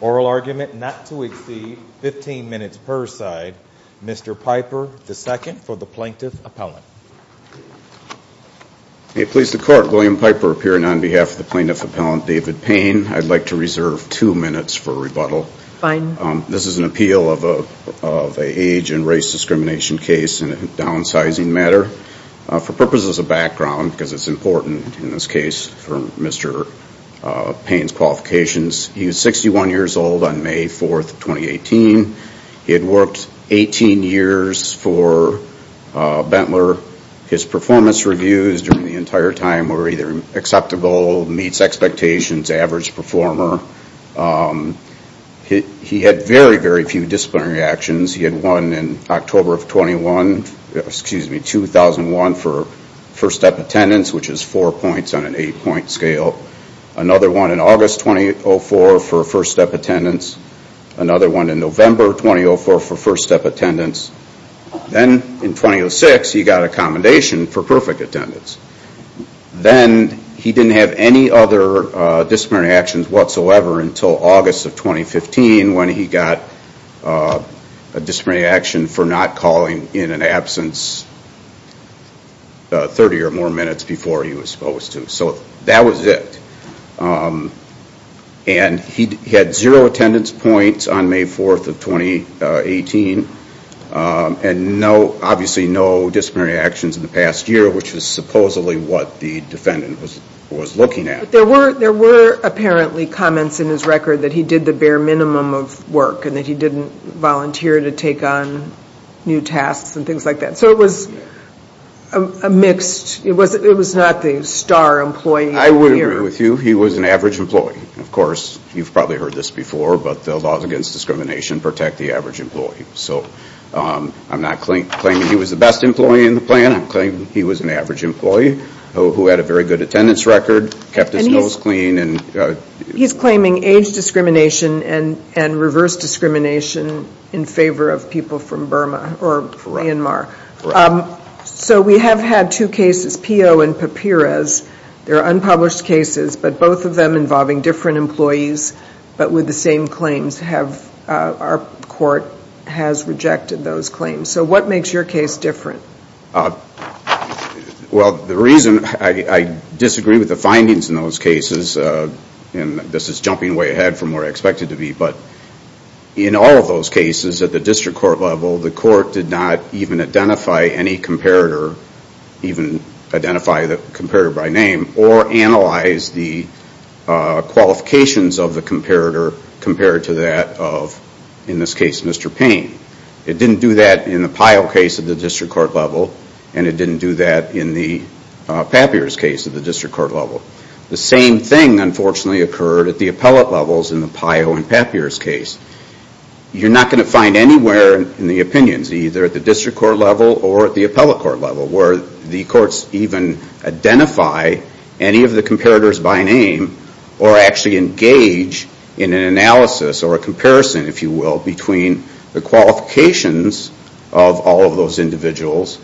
Oral argument not to exceed 15 minutes per side. Mr. Piper the second for the plaintiff appellant. May it please the court William Piper appearing on behalf of the plaintiff appellant David Payne. I'd like to reserve two minutes for rebuttal. Fine. This is an of an age and race discrimination case in a downsizing matter. For purposes of background because it's important in this case for Mr. Payne's qualifications. He was 61 years old on May 4th, 2018. He had worked 18 years for Benteler. His performance reviews during the entire time were either acceptable, meets expectations, average performer. He had very few disciplinary actions. He had one in October of 2001 for first step attendance which is four points on an eight point scale. Another one in August 2004 for first step attendance. Another one in November 2004 for first step attendance. Then in 2006 he got a commendation for perfect attendance. Then he didn't have any other disciplinary actions whatsoever until August of 2015 when he got a disciplinary action for not calling in an absence 30 or more minutes before he was supposed to. So that was it. And he had zero attendance points on May 4th of 2018 and no obviously no disciplinary actions in the past year which is supposedly what the defendant was looking at. There were apparently comments in his record that he did the bare minimum of work and that he didn't volunteer to take on new tasks and things like that. So it was a mixed, it was not the star employee. I would agree with you. He was an average employee. Of course you've probably heard this before but the laws against discrimination protect the average employee. So I'm not claiming he was the best employee in the plan. I'm claiming he was an average employee who had a very good attendance record, kept his nose clean. He's claiming age discrimination and reverse discrimination in favor of people from Burma or Myanmar. So we have had two cases, Pio and Papirez. They're unpublished cases but both of them involving different employees but with the same claims. Our court has rejected those claims. So what makes your case different? Well the reason, I disagree with the findings in those cases and this is jumping way ahead from where I expected to be but in all of those cases at the district court level the court did not even identify any comparator, even identify the comparator by name or analyze the qualifications of the Mr. Payne. It didn't do that in the Pio case at the district court level and it didn't do that in the Papirez case at the district court level. The same thing unfortunately occurred at the appellate levels in the Pio and Papirez case. You're not going to find anywhere in the opinions, either at the district court level or at the appellate court level where the courts even identify any of the comparators by name or actually engage in an analysis or a comparison, if you will, between the qualifications of all of those individuals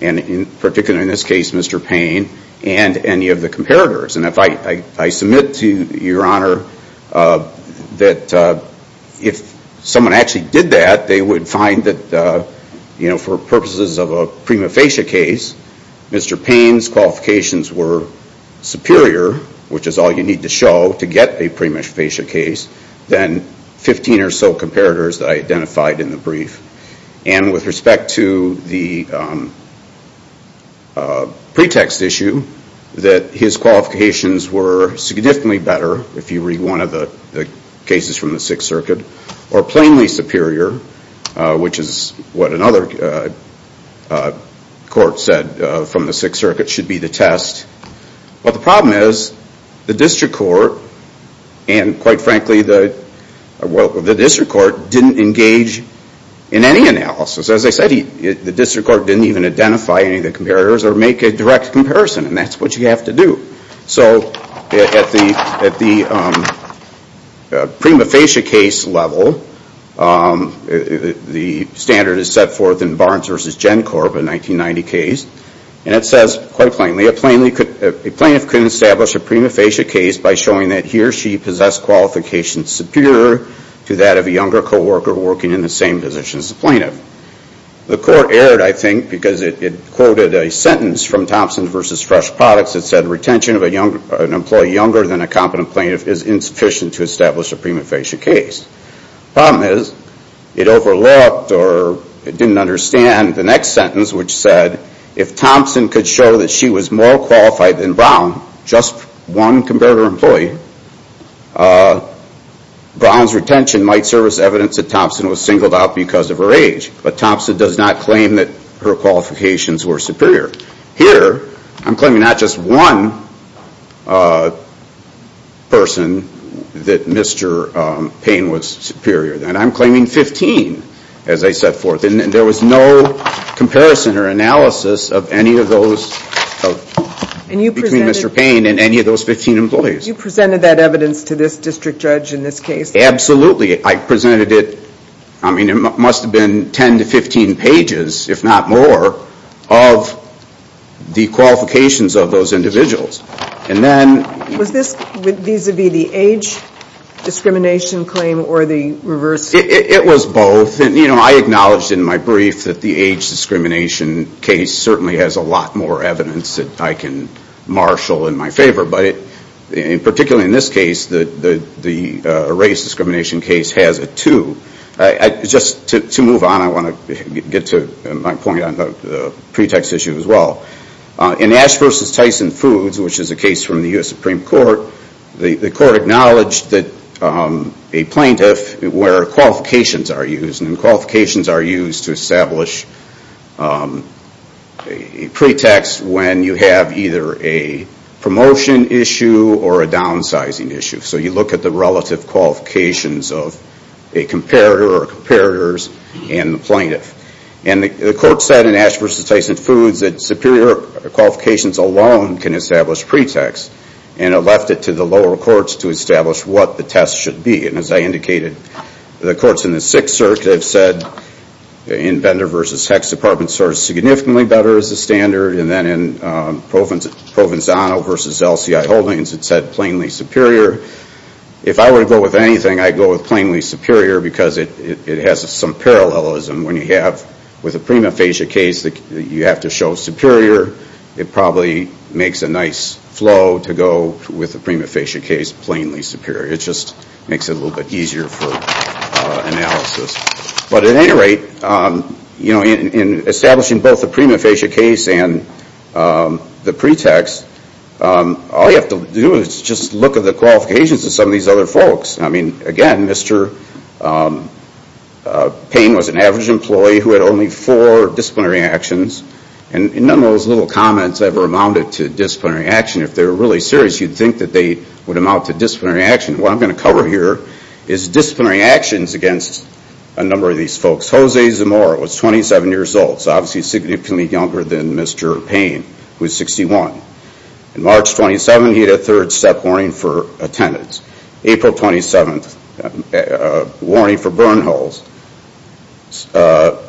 and particularly in this case Mr. Payne and any of the comparators. I submit to your honor that if someone actually did that they would find that for purposes of a prima facie case Mr. Payne's qualifications were superior, which is all you need to show to get a prima facie case, than 15 or so comparators that I identified in the brief. And with respect to the pretext issue that his qualifications were significantly better, if you read one of the cases from the Sixth Circuit, or plainly superior, which is what another court said from the Sixth Circuit should be the test. But the problem is the district court and quite frankly the district court didn't engage in any analysis. As I said, the district court didn't even identify any of the comparators or make a direct comparison and that's what you have to do. So at the prima facie case level, the standard is set forth in Barnes v. Gencorp, a 1990 case, and it says quite plainly, a plaintiff could establish a prima facie case by showing that he or she possessed qualifications superior to that of a younger co-worker working in the same position as the plaintiff. The court erred, I think, because it quoted a sentence from Thompson v. Fresh Products that said retention of an employee younger than a competent plaintiff is insufficient to establish a prima facie case. The problem is it overlooked or it didn't understand the next sentence which said if Thompson could show that she was more qualified than Brown, just one competitor employee, Brown's retention might serve as evidence that Thompson was singled out because of her age. But Thompson does not claim that her qualifications were superior. Here I'm claiming not just one person that Mr. Payne was superior, I'm claiming 15 as I set forth and there was no comparison or analysis of any of those, between Mr. Payne and any of those 15 employees. You presented that evidence to this district judge in this case? Absolutely. I presented it, I mean it must have been 10 to 15 pages, if not more, of the qualifications of those individuals. Was this vis-a-vis the age discrimination claim or the reverse? It was both. I acknowledged in my brief that the age discrimination case certainly has a lot more evidence that I can marshal in my favor, but particularly in this case, the race discrimination case has it too. Just to move on, I want to get to my point on the Ash v. Tyson Foods, which is a case from the U.S. Supreme Court. The court acknowledged that a plaintiff, where qualifications are used, and qualifications are used to establish a pretext when you have either a promotion issue or a downsizing issue. You look at the relative qualifications of a comparator or comparators and the plaintiff. The court said in Ash v. Tyson Foods that superior qualifications alone can establish pretext, and it left it to the lower courts to establish what the test should be. As I indicated, the courts in the 6th Circuit have said in Bender v. Hecht's department serves significantly better as a standard, and then in Provenzano v. LCI Holdings, it said plainly superior. If I were to go with anything, I would go with plainly superior because it has some parallelism when you have with a prima facie case, you have to show superior. It probably makes a nice flow to go with a prima facie case, plainly superior. It just makes it a little bit easier for analysis. But at any rate, in establishing both the prima facie case and the pretext, all you have to do is just look at the qualifications of some of these other folks. Again, Mr. Payne was an average employee who had only four disciplinary actions, and none of those little comments ever amounted to disciplinary action. If they were really serious, you'd think that they would amount to disciplinary action. What I'm going to cover here is disciplinary actions against a number of these folks. Jose Zamora was 27 years old, so obviously significantly younger than Mr. Payne, who was 61. In March of 27, he had a third step warning for attendants. April 27, a warning for burn holes. September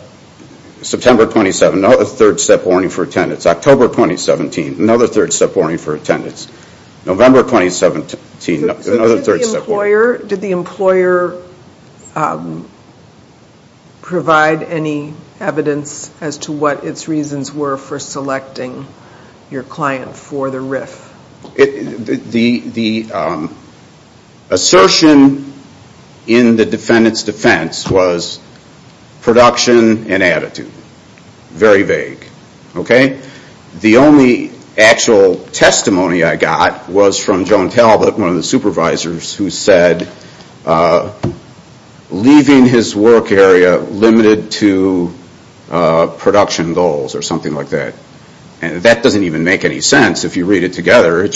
27, a third step warning for attendants. October 2017, another third step warning for attendants. November 2017, another third step warning. Did the employer provide any evidence as to what its reasons were for selecting your client for the RIF? The assertion in the defendant's defense was production and attitude. Very vague. The only actual testimony I got was from Joan Talbot, one of the supervisors, who said, leaving his work area limited to production goals, or something like that. That doesn't even make any sense if you read it together.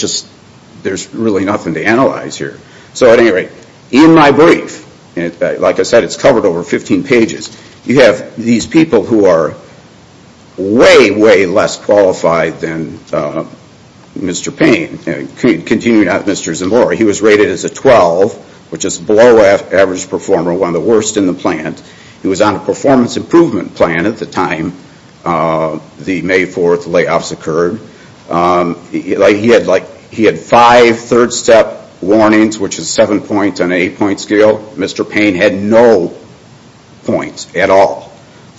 There's really nothing to analyze here. At any rate, in my brief, like I said, it's covered over 15 pages, you have these people who are way, way less qualified than Mr. Payne. Continuing on with Mr. Zamora, he was rated as a 12, which is below average performer, one of the worst in the plant. He was on a performance improvement plan at the time, the May 4 layoffs occurred. He had five third step warnings, which is seven points on an eight point scale. Mr. Payne had no points at all.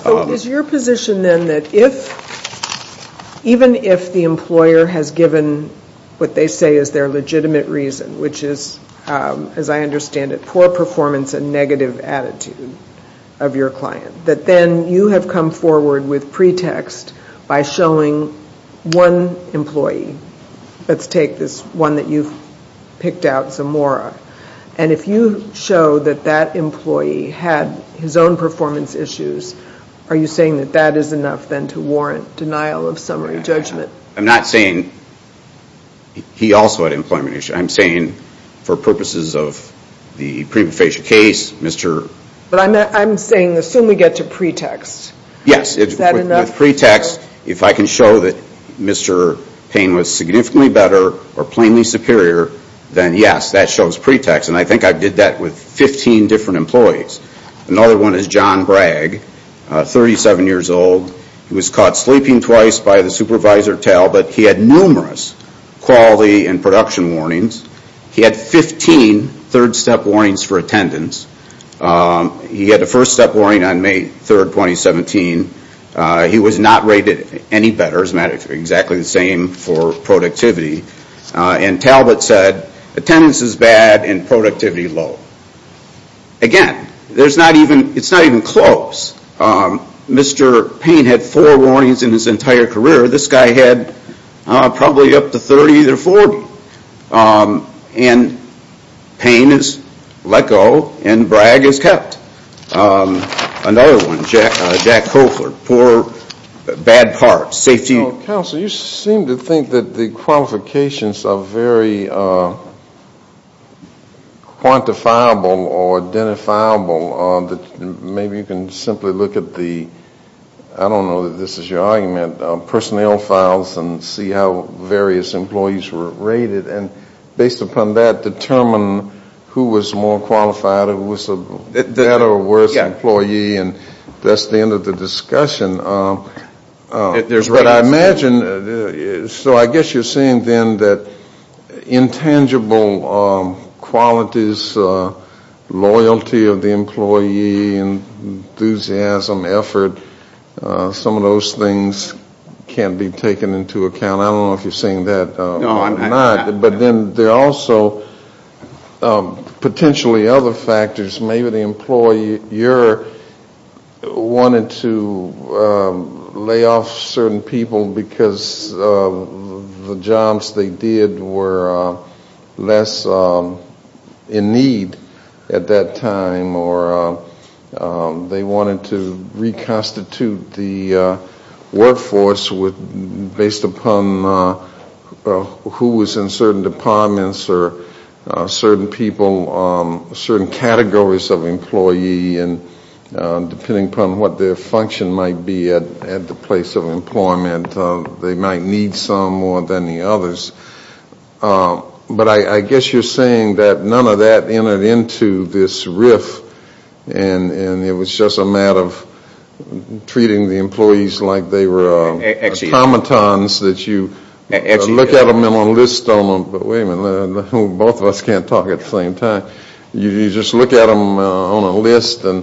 Is your position then that even if the employer has given what they say is their legitimate reason, which is, as I understand it, poor performance and negative attitude of your client, that then you have come forward with pretext by showing one employee, let's take this one that you've picked out, Zamora, and if you show that that employee had his own performance issues, are you saying that that is enough then to warrant denial of summary judgment? I'm not saying he also had employment issues. I'm saying for purposes of the prefacial case, Mr. I'm saying assume we get to pretext. Yes, with pretext, if I can show that Mr. Payne was significantly better or plainly superior, then yes, that shows pretext. I think I did that with 15 different employees. Another one is John Bragg, 37 years old. He was caught sleeping twice by the supervisor Talbot. He had numerous quality and production warnings. He had 15 third step warnings for attendance. He had a first step warning on May 3, 2017. He was not rated any better. It's not exactly the same for productivity. Talbot said attendance is bad and productivity low. Again, it's not even close. Mr. Payne had four warnings in his entire career. This guy had probably up to 30 or 40. Payne has let go and Bragg has kept. Another one, Jack Koeffler, poor, bad parts, safety. Counsel, you seem to think that the qualifications are very quantifiable or identifiable. Maybe you can simply look at the, I don't know if this is your argument, personnel files and see how various employees were rated. Based upon that, determine who was more qualified or who was a better or worse employee. That's the end of the discussion. I guess you're saying then that intangible qualities, loyalty of the employee, enthusiasm, effort, some of those things can be taken into account. I don't know if you're saying that or not. But then there are also potentially other factors. Maybe the employer wanted to lay off certain people because the jobs they did were less in need at that time. Or they wanted to reconstitute the workforce based upon who was in certain departments or certain people, certain categories of employee, depending upon what their function might be at the place of employment. They might need some more than the others. But I guess you're saying that none of that entered into this riff and it was just a matter of treating the employees like they were automatons that you look at them on a list, but wait a minute, both of us can't talk at the same time. You just look at them on a list and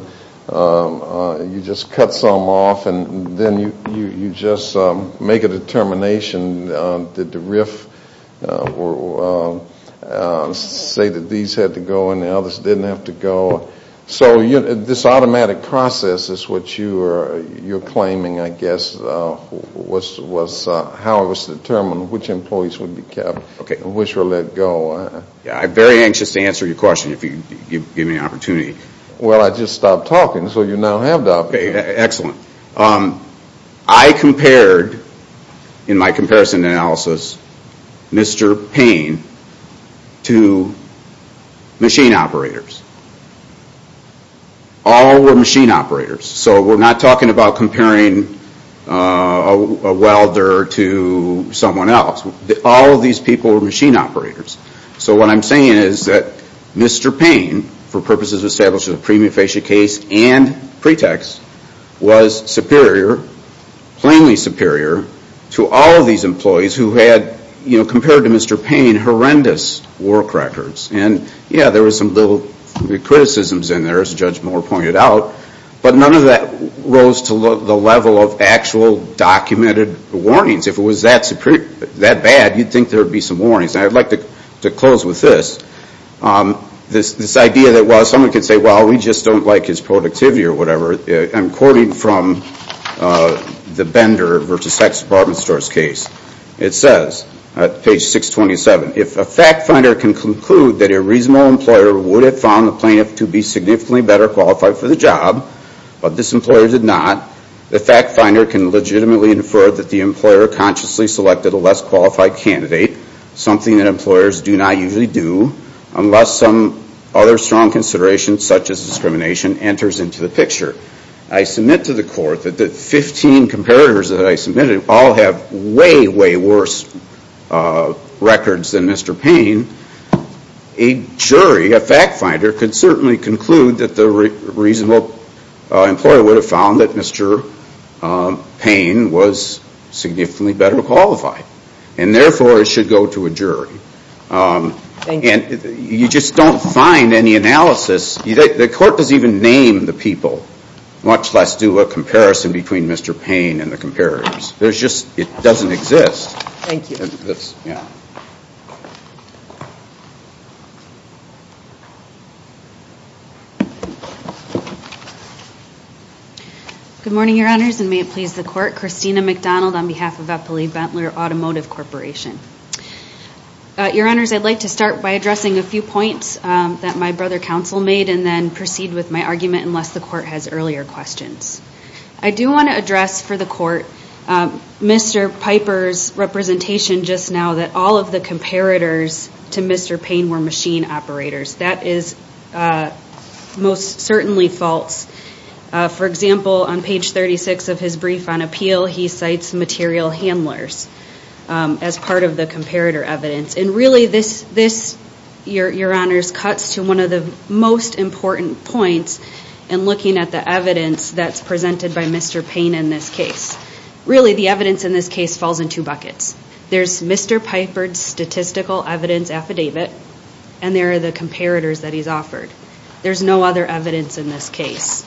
you just cut some off and then you just make a determination. Did the riff say that these had to go and the others didn't have to go? So this automatic process is what you're claiming, I guess, was how it was determined which employees would be kept and which were let go. I'm very anxious to answer your question if you give me an opportunity. Well I just stopped talking so you now have the opportunity. Excellent. I compared, in my comparison analysis, Mr. Payne to machine operators. All were machine operators. So we're not talking about comparing a welder to someone else. All of these people were machine operators. So what I'm saying is that Mr. Payne, for purposes of establishing a premium facia case and pretext, was superior, plainly superior, to all of these employees who had, compared to Mr. Payne, horrendous work records. And yeah, there were some little criticisms in there, as Judge Moore pointed out, but none of that rose to the level of actual documented warnings. If it was that bad, you'd think there would be some warnings. I'd like to close with this. This idea that someone could say, well, we just don't like his productivity or whatever. I'm quoting from the Bender v. Sex Department Stores case. It says, at page 627, if a fact finder can conclude that a reasonable employer would have found the plaintiff to be significantly better qualified for the job, but this employer did not, the fact finder can legitimately infer that the employer consciously selected a less qualified candidate, something that employers do not usually do, unless some other strong consideration, such as discrimination, enters into the picture. I submit to the court that the 15 comparators that I submitted all have way, way worse records than Mr. Payne. A jury, a fact finder, could certainly conclude that the reasonable employer would have found that Mr. Payne was significantly better qualified. And therefore, it should go to a jury. Thank you. And you just don't find any analysis. The court doesn't even name the people, much less do a comparison between Mr. Payne and the comparators. There's just, it doesn't exist. Thank you. Good morning, your honors, and may it please the court. Christina McDonald on behalf of Eppley-Bentler Automotive Corporation. Your honors, I'd like to start by addressing a few points that my brother counsel made, and then proceed with my argument unless the court has earlier questions. I do want to address for the court, Mr. Piper's representation just now that all of the comparators to Mr. Payne were machine operators. That is most certainly false. For example, on page 36 of his brief on appeal, he cites material handlers as part of the comparator evidence. And really this, your honors, cuts to one of the most important points, and that's the evidence that's presented by Mr. Payne in this case. Really the evidence in this case falls in two buckets. There's Mr. Piper's statistical evidence affidavit, and there are the comparators that he's offered. There's no other evidence in this case.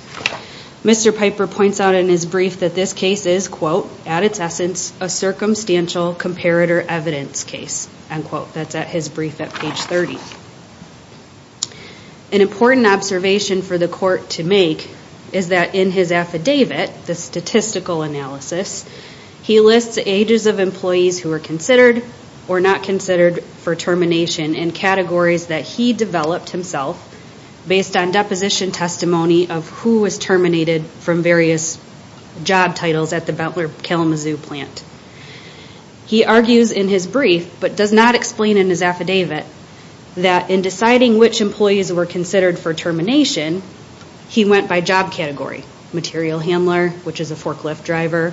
Mr. Piper points out in his brief that this case is, quote, at its essence, a circumstantial comparator evidence case, end quote. That's at his brief at page 30. An important observation for the court to make is that in his affidavit, the statistical analysis, he lists ages of employees who were considered or not considered for termination and categories that he developed himself based on deposition testimony of who was terminated from various job titles at the Butler Kalamazoo plant. He argues in his brief, but does not explain in his affidavit, that in deciding which employees were considered for termination, he went by job category, material handler, which is a forklift driver,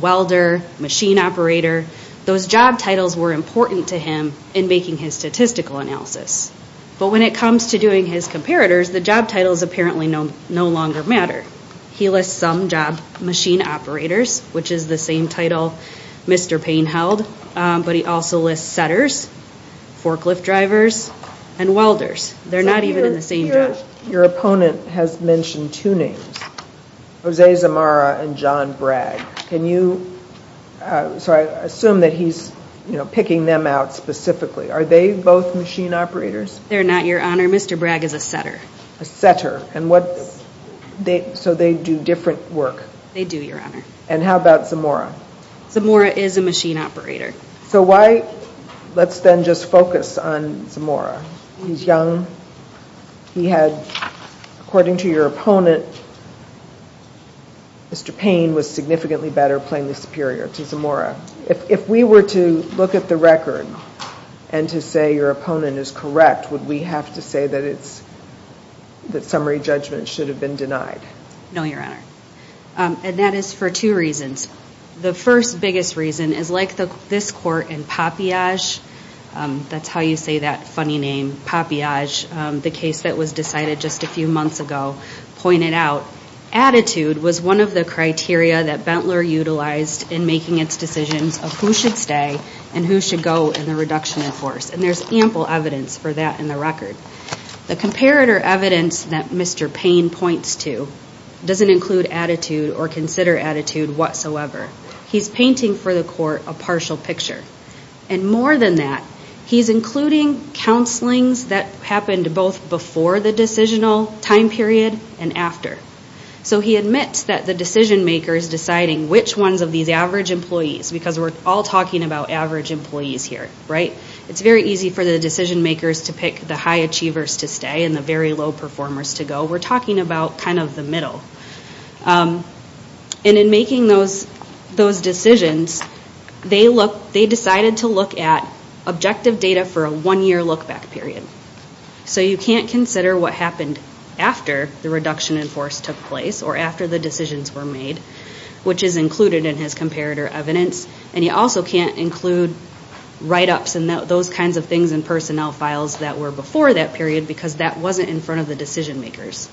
welder, machine operator. Those job titles were important to him in making his statistical analysis. But when it comes to doing his comparators, the job titles apparently no longer matter. He lists some job machine operators, which is the same title Mr. Payne held, but he also lists setters, forklift drivers, and welders. They're not even in the same job. Your opponent has mentioned two names, Jose Zamora and John Bragg. Can you, so I assume that he's, you know, picking them out specifically. Are they both machine operators? They're not, Your Honor. Mr. Bragg is a setter. A setter. And what, so they do different work? They do, Your Honor. And how about Zamora? Zamora is a machine operator. So why, let's then just focus on Zamora. He's young. He had, according to your opponent, Mr. Payne was significantly better, plainly superior to Zamora. If we were to look at the record and to say your opponent is correct, would we have to say that it's, that summary judgment should have been denied? No, Your Honor. And that is for two reasons. The first biggest reason is like this court in Papillage, that's how you say that funny name, Papillage, the case that was decided just a few months ago, pointed out, attitude was one of the criteria that Bentler utilized in making its decisions of who should stay and who should go in the reduction in force. And there's ample evidence for that in the record. The comparator evidence that Mr. Payne points to doesn't include attitude or consider attitude whatsoever. He's painting for the court a partial picture. And more than that, he's including counselings that happened both before the decisional time period and after. So he admits that the decision makers deciding which ones of these average employees, because we're all talking about average employees here, right? It's very easy for the decision makers to pick the high achievers to stay and the very low performers to go. We're talking about kind of the middle. And in making those decisions, they look, they decided to look at objective data for a one-year look-back period. So you can't consider what happened after the reduction in force took place or after the decisions were made, which is included in his comparator evidence. And you also can't include write-ups and those kinds of things in personnel files that were before that period because that wasn't in front of the decision makers.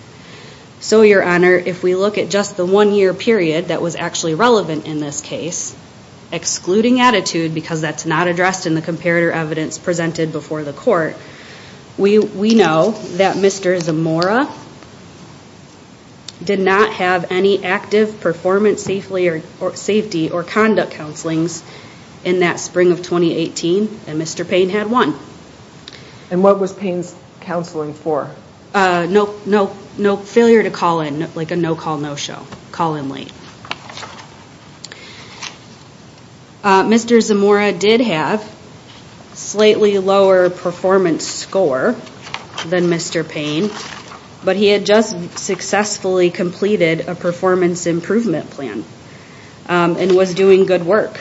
So your honor, if we look at just the one-year period that was actually relevant in this case, excluding attitude because that's not addressed in the comparator evidence presented before the court, we know that Mr. Zamora did not have any active performance safety or conduct counselings in that spring of 2018 and Mr. Payne had one. And what was Payne's counseling for? No, no, no failure to call in, like a no call, no show, call in late. Mr. Zamora did have slightly lower performance score than Mr. Payne, but he had just successfully completed a performance improvement plan and was doing good work.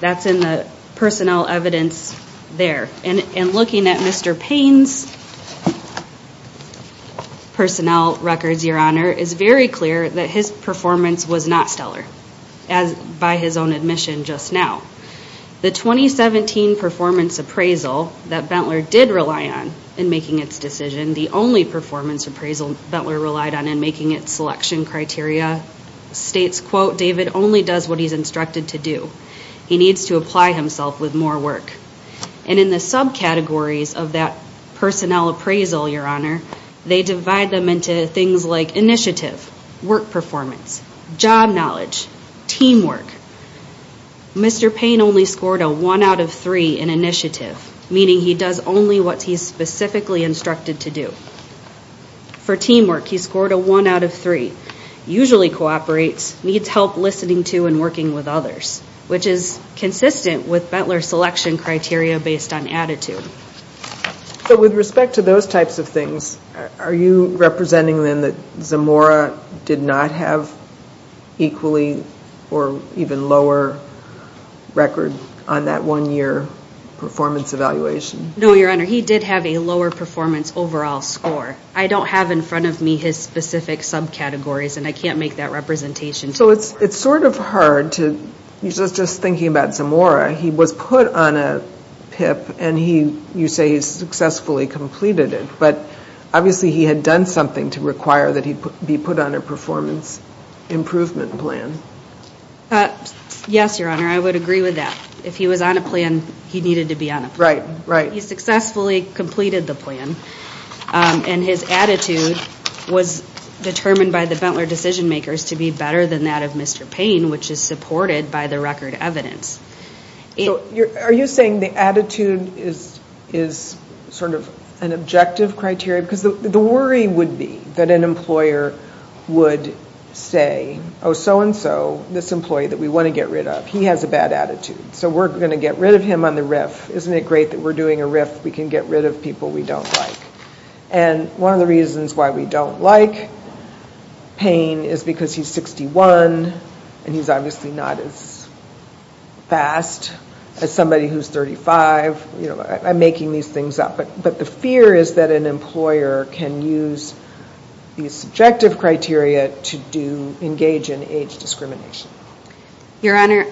That's in the personnel evidence there. And looking at Mr. Payne's personnel records, your honor, it's very clear that his performance was not stellar, as by his own admission just now. The 2017 performance appraisal that Bentler did rely on in making its decision, the only performance appraisal Bentler relied on in making its selection criteria states, quote, David only does what he's instructed to do. He needs to apply himself with more work. And in the subcategories of that personnel appraisal, your honor, they divide them into things like initiative, work performance, job knowledge, teamwork. Mr. Payne only scored a one out of three in initiative, meaning he does only what he's specifically instructed to do. For teamwork, he scored a one out of three. Usually cooperates, needs help listening to and working with others, which is consistent with Bentler's selection criteria based on attitude. So with respect to those types of things, are you representing then that Zamora did not have equally or even lower record on that one year performance evaluation? No, your honor. He did have a lower performance overall score. I don't have in front of me his specific subcategories and I can't make that representation. So it's sort of hard to, just thinking about Zamora, he was put on a PIP and he, you say he successfully completed it, but obviously he had done something to require that he be put on a performance improvement plan. Yes, your honor. I would agree with that. If he was on a plan, he needed to be on a plan. He successfully completed the plan and his attitude was determined by the Bentler decision makers to be better than that of Mr. Payne, which is supported by the record evidence. Are you saying the attitude is sort of an objective criteria? Because the worry would be that an employer would say, oh, so and so, this employee that we want to get rid of, he has a bad attitude, so we're going to get rid of him on the riff. Isn't it great that we're doing a riff? We can get rid of people we don't like. And one of the reasons why we don't like Payne is because he's 61 and he's obviously not as fast as somebody who's 35. I'm making these things up, but the fear is that an employer can use these subjective criteria to engage in age discrimination. Your honor,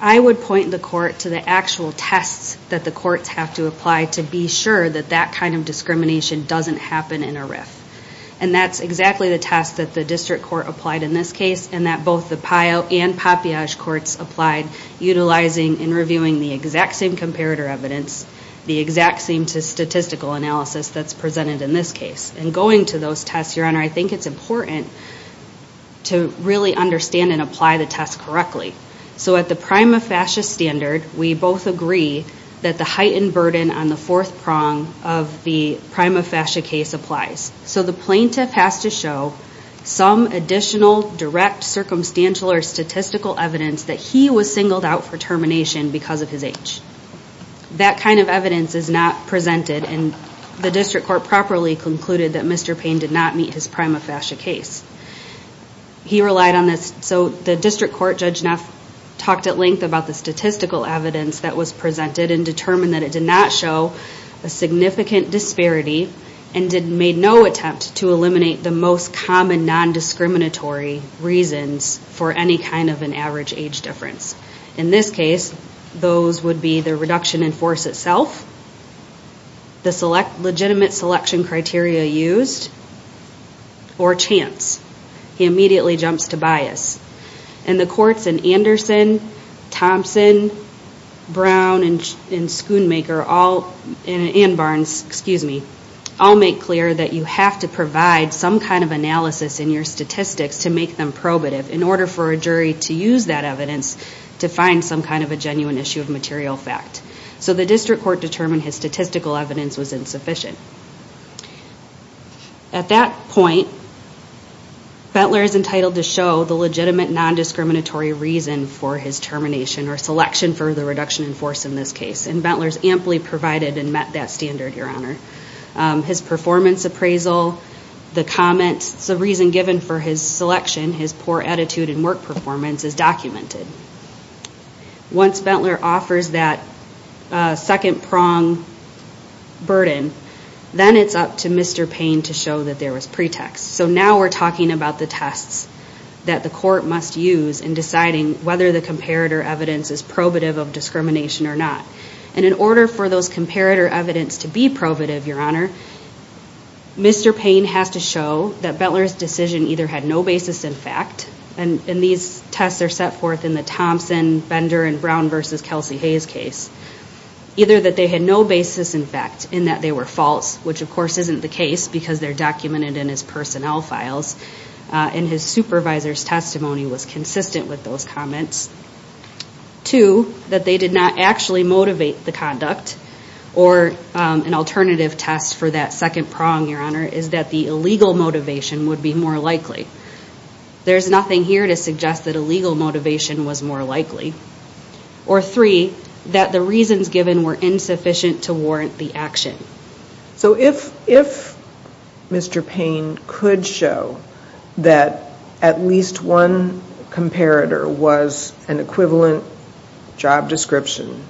I would point the court to the actual tests that the courts have to apply to be sure that that kind of discrimination doesn't happen in a riff. And that's exactly the test that the district court applied in this case and that both the PIO and PAPIASH courts applied, utilizing and reviewing the exact same comparator evidence, the exact same statistical analysis that's presented in this case. And going to those tests, your So at the prima facie standard, we both agree that the heightened burden on the fourth prong of the prima facie case applies. So the plaintiff has to show some additional direct circumstantial or statistical evidence that he was singled out for termination because of his age. That kind of evidence is not presented and the district court properly concluded that Mr. Court Judge Neff talked at length about the statistical evidence that was presented and determined that it did not show a significant disparity and made no attempt to eliminate the most common non-discriminatory reasons for any kind of an average age difference. In this case, those would be the reduction in force itself, the legitimate selection criteria used or chance. He immediately jumps to bias. And the courts in Anderson, Thompson, Brown and Schoonmaker all, and Barnes, excuse me, all make clear that you have to provide some kind of analysis in your statistics to make them probative in order for a jury to use that evidence to find some kind of a genuine issue of material fact. So the district court determined his statistical evidence was insufficient. At that point, Bentler is entitled to show the legitimate non-discriminatory reason for his termination or selection for the reduction in force in this case. And Bentler is amply provided and met that standard, Your Honor. His performance appraisal, the comments, the reason given for his selection, his poor attitude and work performance is documented. Once Bentler offers that second prong burden, then it's up to Mr. Payne to show that there was pretext. So now we're talking about the tests that the court must use in deciding whether the comparator evidence is probative of discrimination or not. And in order for those comparator evidence to be probative, Your Honor, Mr. Payne has to show that Bentler's decision either had no basis in fact, and these tests are set forth in the Thompson, Bender and Brown v. Kelsey Hayes case, either that they had no basis in fact in that they were false, which of course isn't the case because they're documented in his personnel files, and his supervisor's testimony was consistent with those comments. Two, that they did not actually motivate the conduct or an alternative test for that second prong, Your Honor, is that the illegal motivation would be more likely. There's nothing here to suggest that illegal motivation was more likely. Or three, that the reasons given were insufficient to warrant the action. So if Mr. Payne could show that at least one comparator was an equivalent job description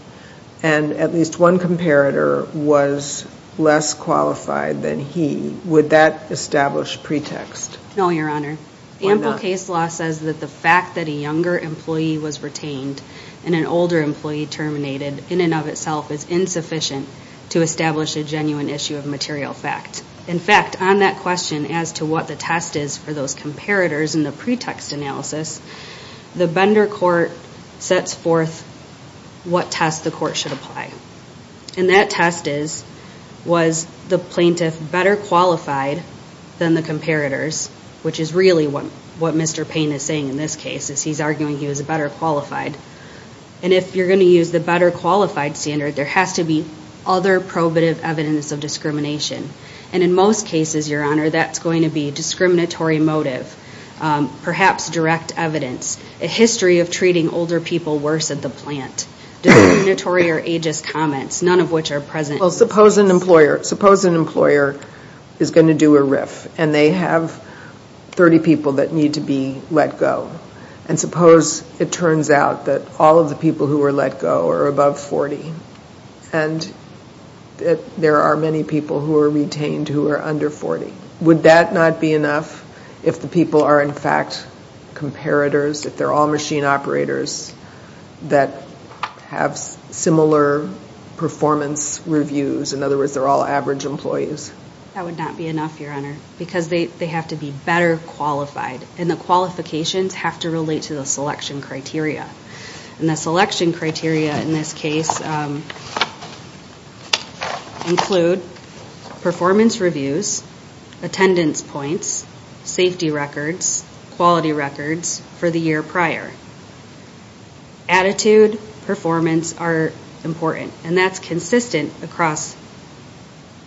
and at least one comparator was less qualified than he, would that establish pretext? No, Your Honor. Ample case law says that the fact that a younger employee was retained and an older employee terminated in and of itself is insufficient to establish a genuine issue of material fact. In fact, on that question as to what the test is for those comparators in the pretext analysis, the Bender court sets forth what test the court should apply. And that test is, was the plaintiff better qualified than the comparators, which is really what Mr. Payne is saying in this case, is he's arguing he was better qualified. And if you're going to use the better qualified standard, there has to be other probative evidence of discrimination. And in most cases, Your Honor, that's going to be discriminatory motive, perhaps direct evidence, a history of treating older people worse at the plant, discriminatory or ageist comments, none of which are present in this case. Well, suppose an employer, suppose an employer is going to do a RIF and they have 30 people that need to be let go. And suppose it turns out that all of the people who are let go are above 40 and that there are many people who are retained who are under 40. Would that not be enough if the people are, in fact, comparators, if they're all machine operators that have similar performance reviews? In other words, they're all average employees. That would not be enough, Your Honor, because they have to be better qualified and the qualifications have to relate to the selection criteria. And the selection criteria in this case include performance reviews, attendance points, safety records, quality records for the year prior. Attitude, performance are important. And that's consistent across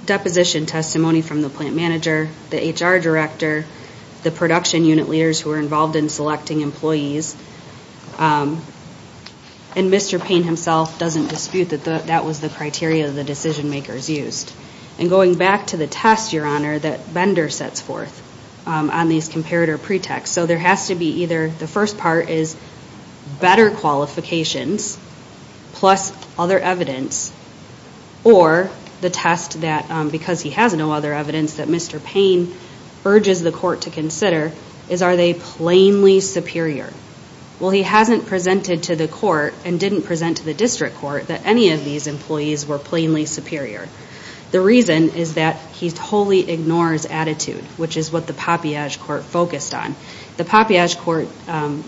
deposition testimony from the plant manager, the HR director, the production unit leaders who are involved in selecting employees. And Mr. Payne himself doesn't dispute that that was the criteria the decision makers used. And going back to the test, Your Honor, that Bender sets forth on these comparator pretexts. So there has to be either the first part is better qualifications plus other evidence or the test that because he has no other evidence that Mr. Payne urges the court to consider is are they plainly superior? Well, he hasn't presented to the court and didn't present to the district court that any of these employees were plainly superior. The reason is that he wholly ignores attitude, which is what the Papayage court focused on. The Papayage court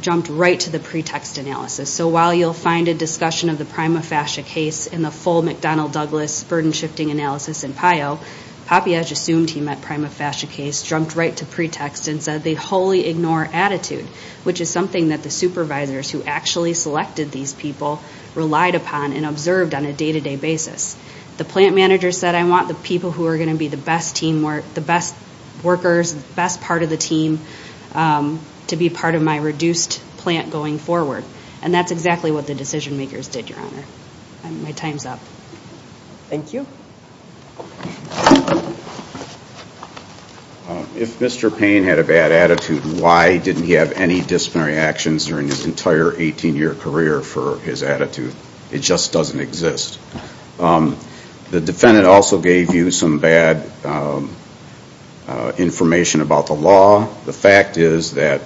jumped right to the pretext analysis. So while you'll find a discussion of the Prima Fascia case in the full McDonnell Douglas burden shifting analysis in PIO, Papayage assumed he meant Prima Fascia case, jumped right to pretext and said they wholly ignore attitude, which is something that the supervisors who actually selected these people relied upon and observed on a day-to-day basis. The plant manager said I want the people who are going to be the best team, the best workers, the best part of the team to be part of my reduced plant going forward. And that's exactly what the decision makers did, Your Honor. My time's up. Thank you. If Mr. Payne had a bad attitude, why did he have any disciplinary actions during his entire 18-year career for his attitude? It just doesn't exist. The defendant also gave you some bad information about the law. The fact is that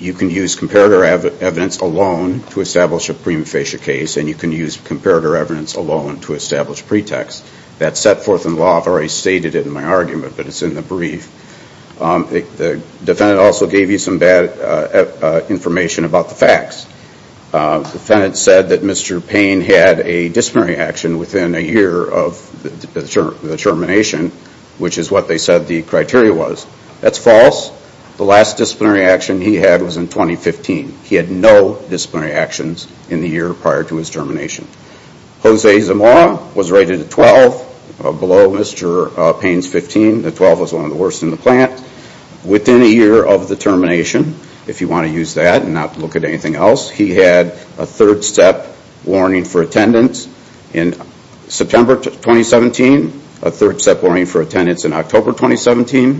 you can use comparator evidence alone to establish a Prima Fascia case and you can use comparator evidence alone to establish pretext. That's set forth in law. I've already gave you some bad information about the facts. The defendant said that Mr. Payne had a disciplinary action within a year of the termination, which is what they said the criteria was. That's false. The last disciplinary action he had was in 2015. He had no disciplinary actions in the year prior to his termination. Jose Zamora was rated a 12 below Mr. Payne's 15. The 12 was one of the worst in the plant. Within a year of the termination, if you want to use that and not look at anything else, he had a third-step warning for attendance in September 2017, a third-step warning for attendance in October 2017,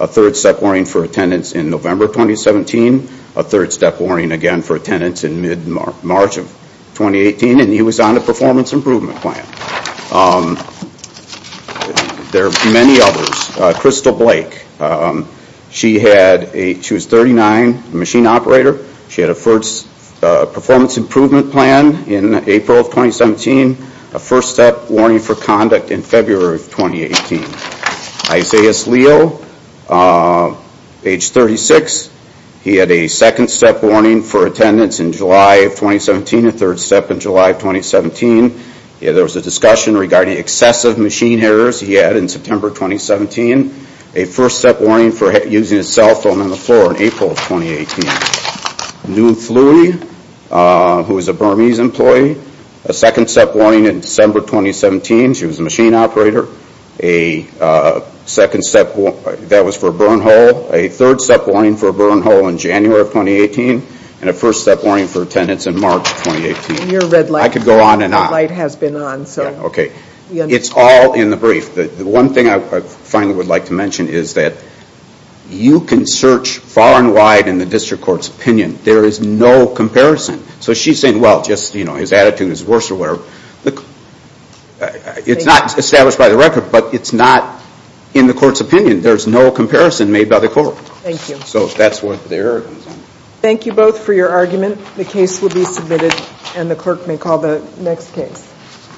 a third-step warning for attendance in November 2017, a third-step warning again for attendance in mid-March of 2017. Crystal Blake, she was 39, a machine operator. She had a performance improvement plan in April of 2017, a first-step warning for conduct in February of 2018. Isaias Leo, age 36, he had a second-step warning for attendance in July of 2017, a third-step in July of 2017. There was a discussion regarding excessive machine errors he had in September 2017, a first-step warning for using a cell phone on the floor in April of 2018. Noone Flewe, who was a Burmese employee, a second-step warning in December 2017. She was a machine operator. A second-step, that was for a burn hole, a third-step warning for a burn hole in January of 2018, and a first-step warning for attendance in March of 2018. I could go on and on. The light has been on. It's all in the brief. The one thing I finally would like to mention is that you can search far and wide in the district court's opinion. There is no comparison. So she's saying, well, just his attitude is worse or whatever. It's not established by the record, but it's not in the court's opinion. There's no comparison made by the court. Thank you. Thank you both for your argument. The case will be submitted and the clerk may call the next case.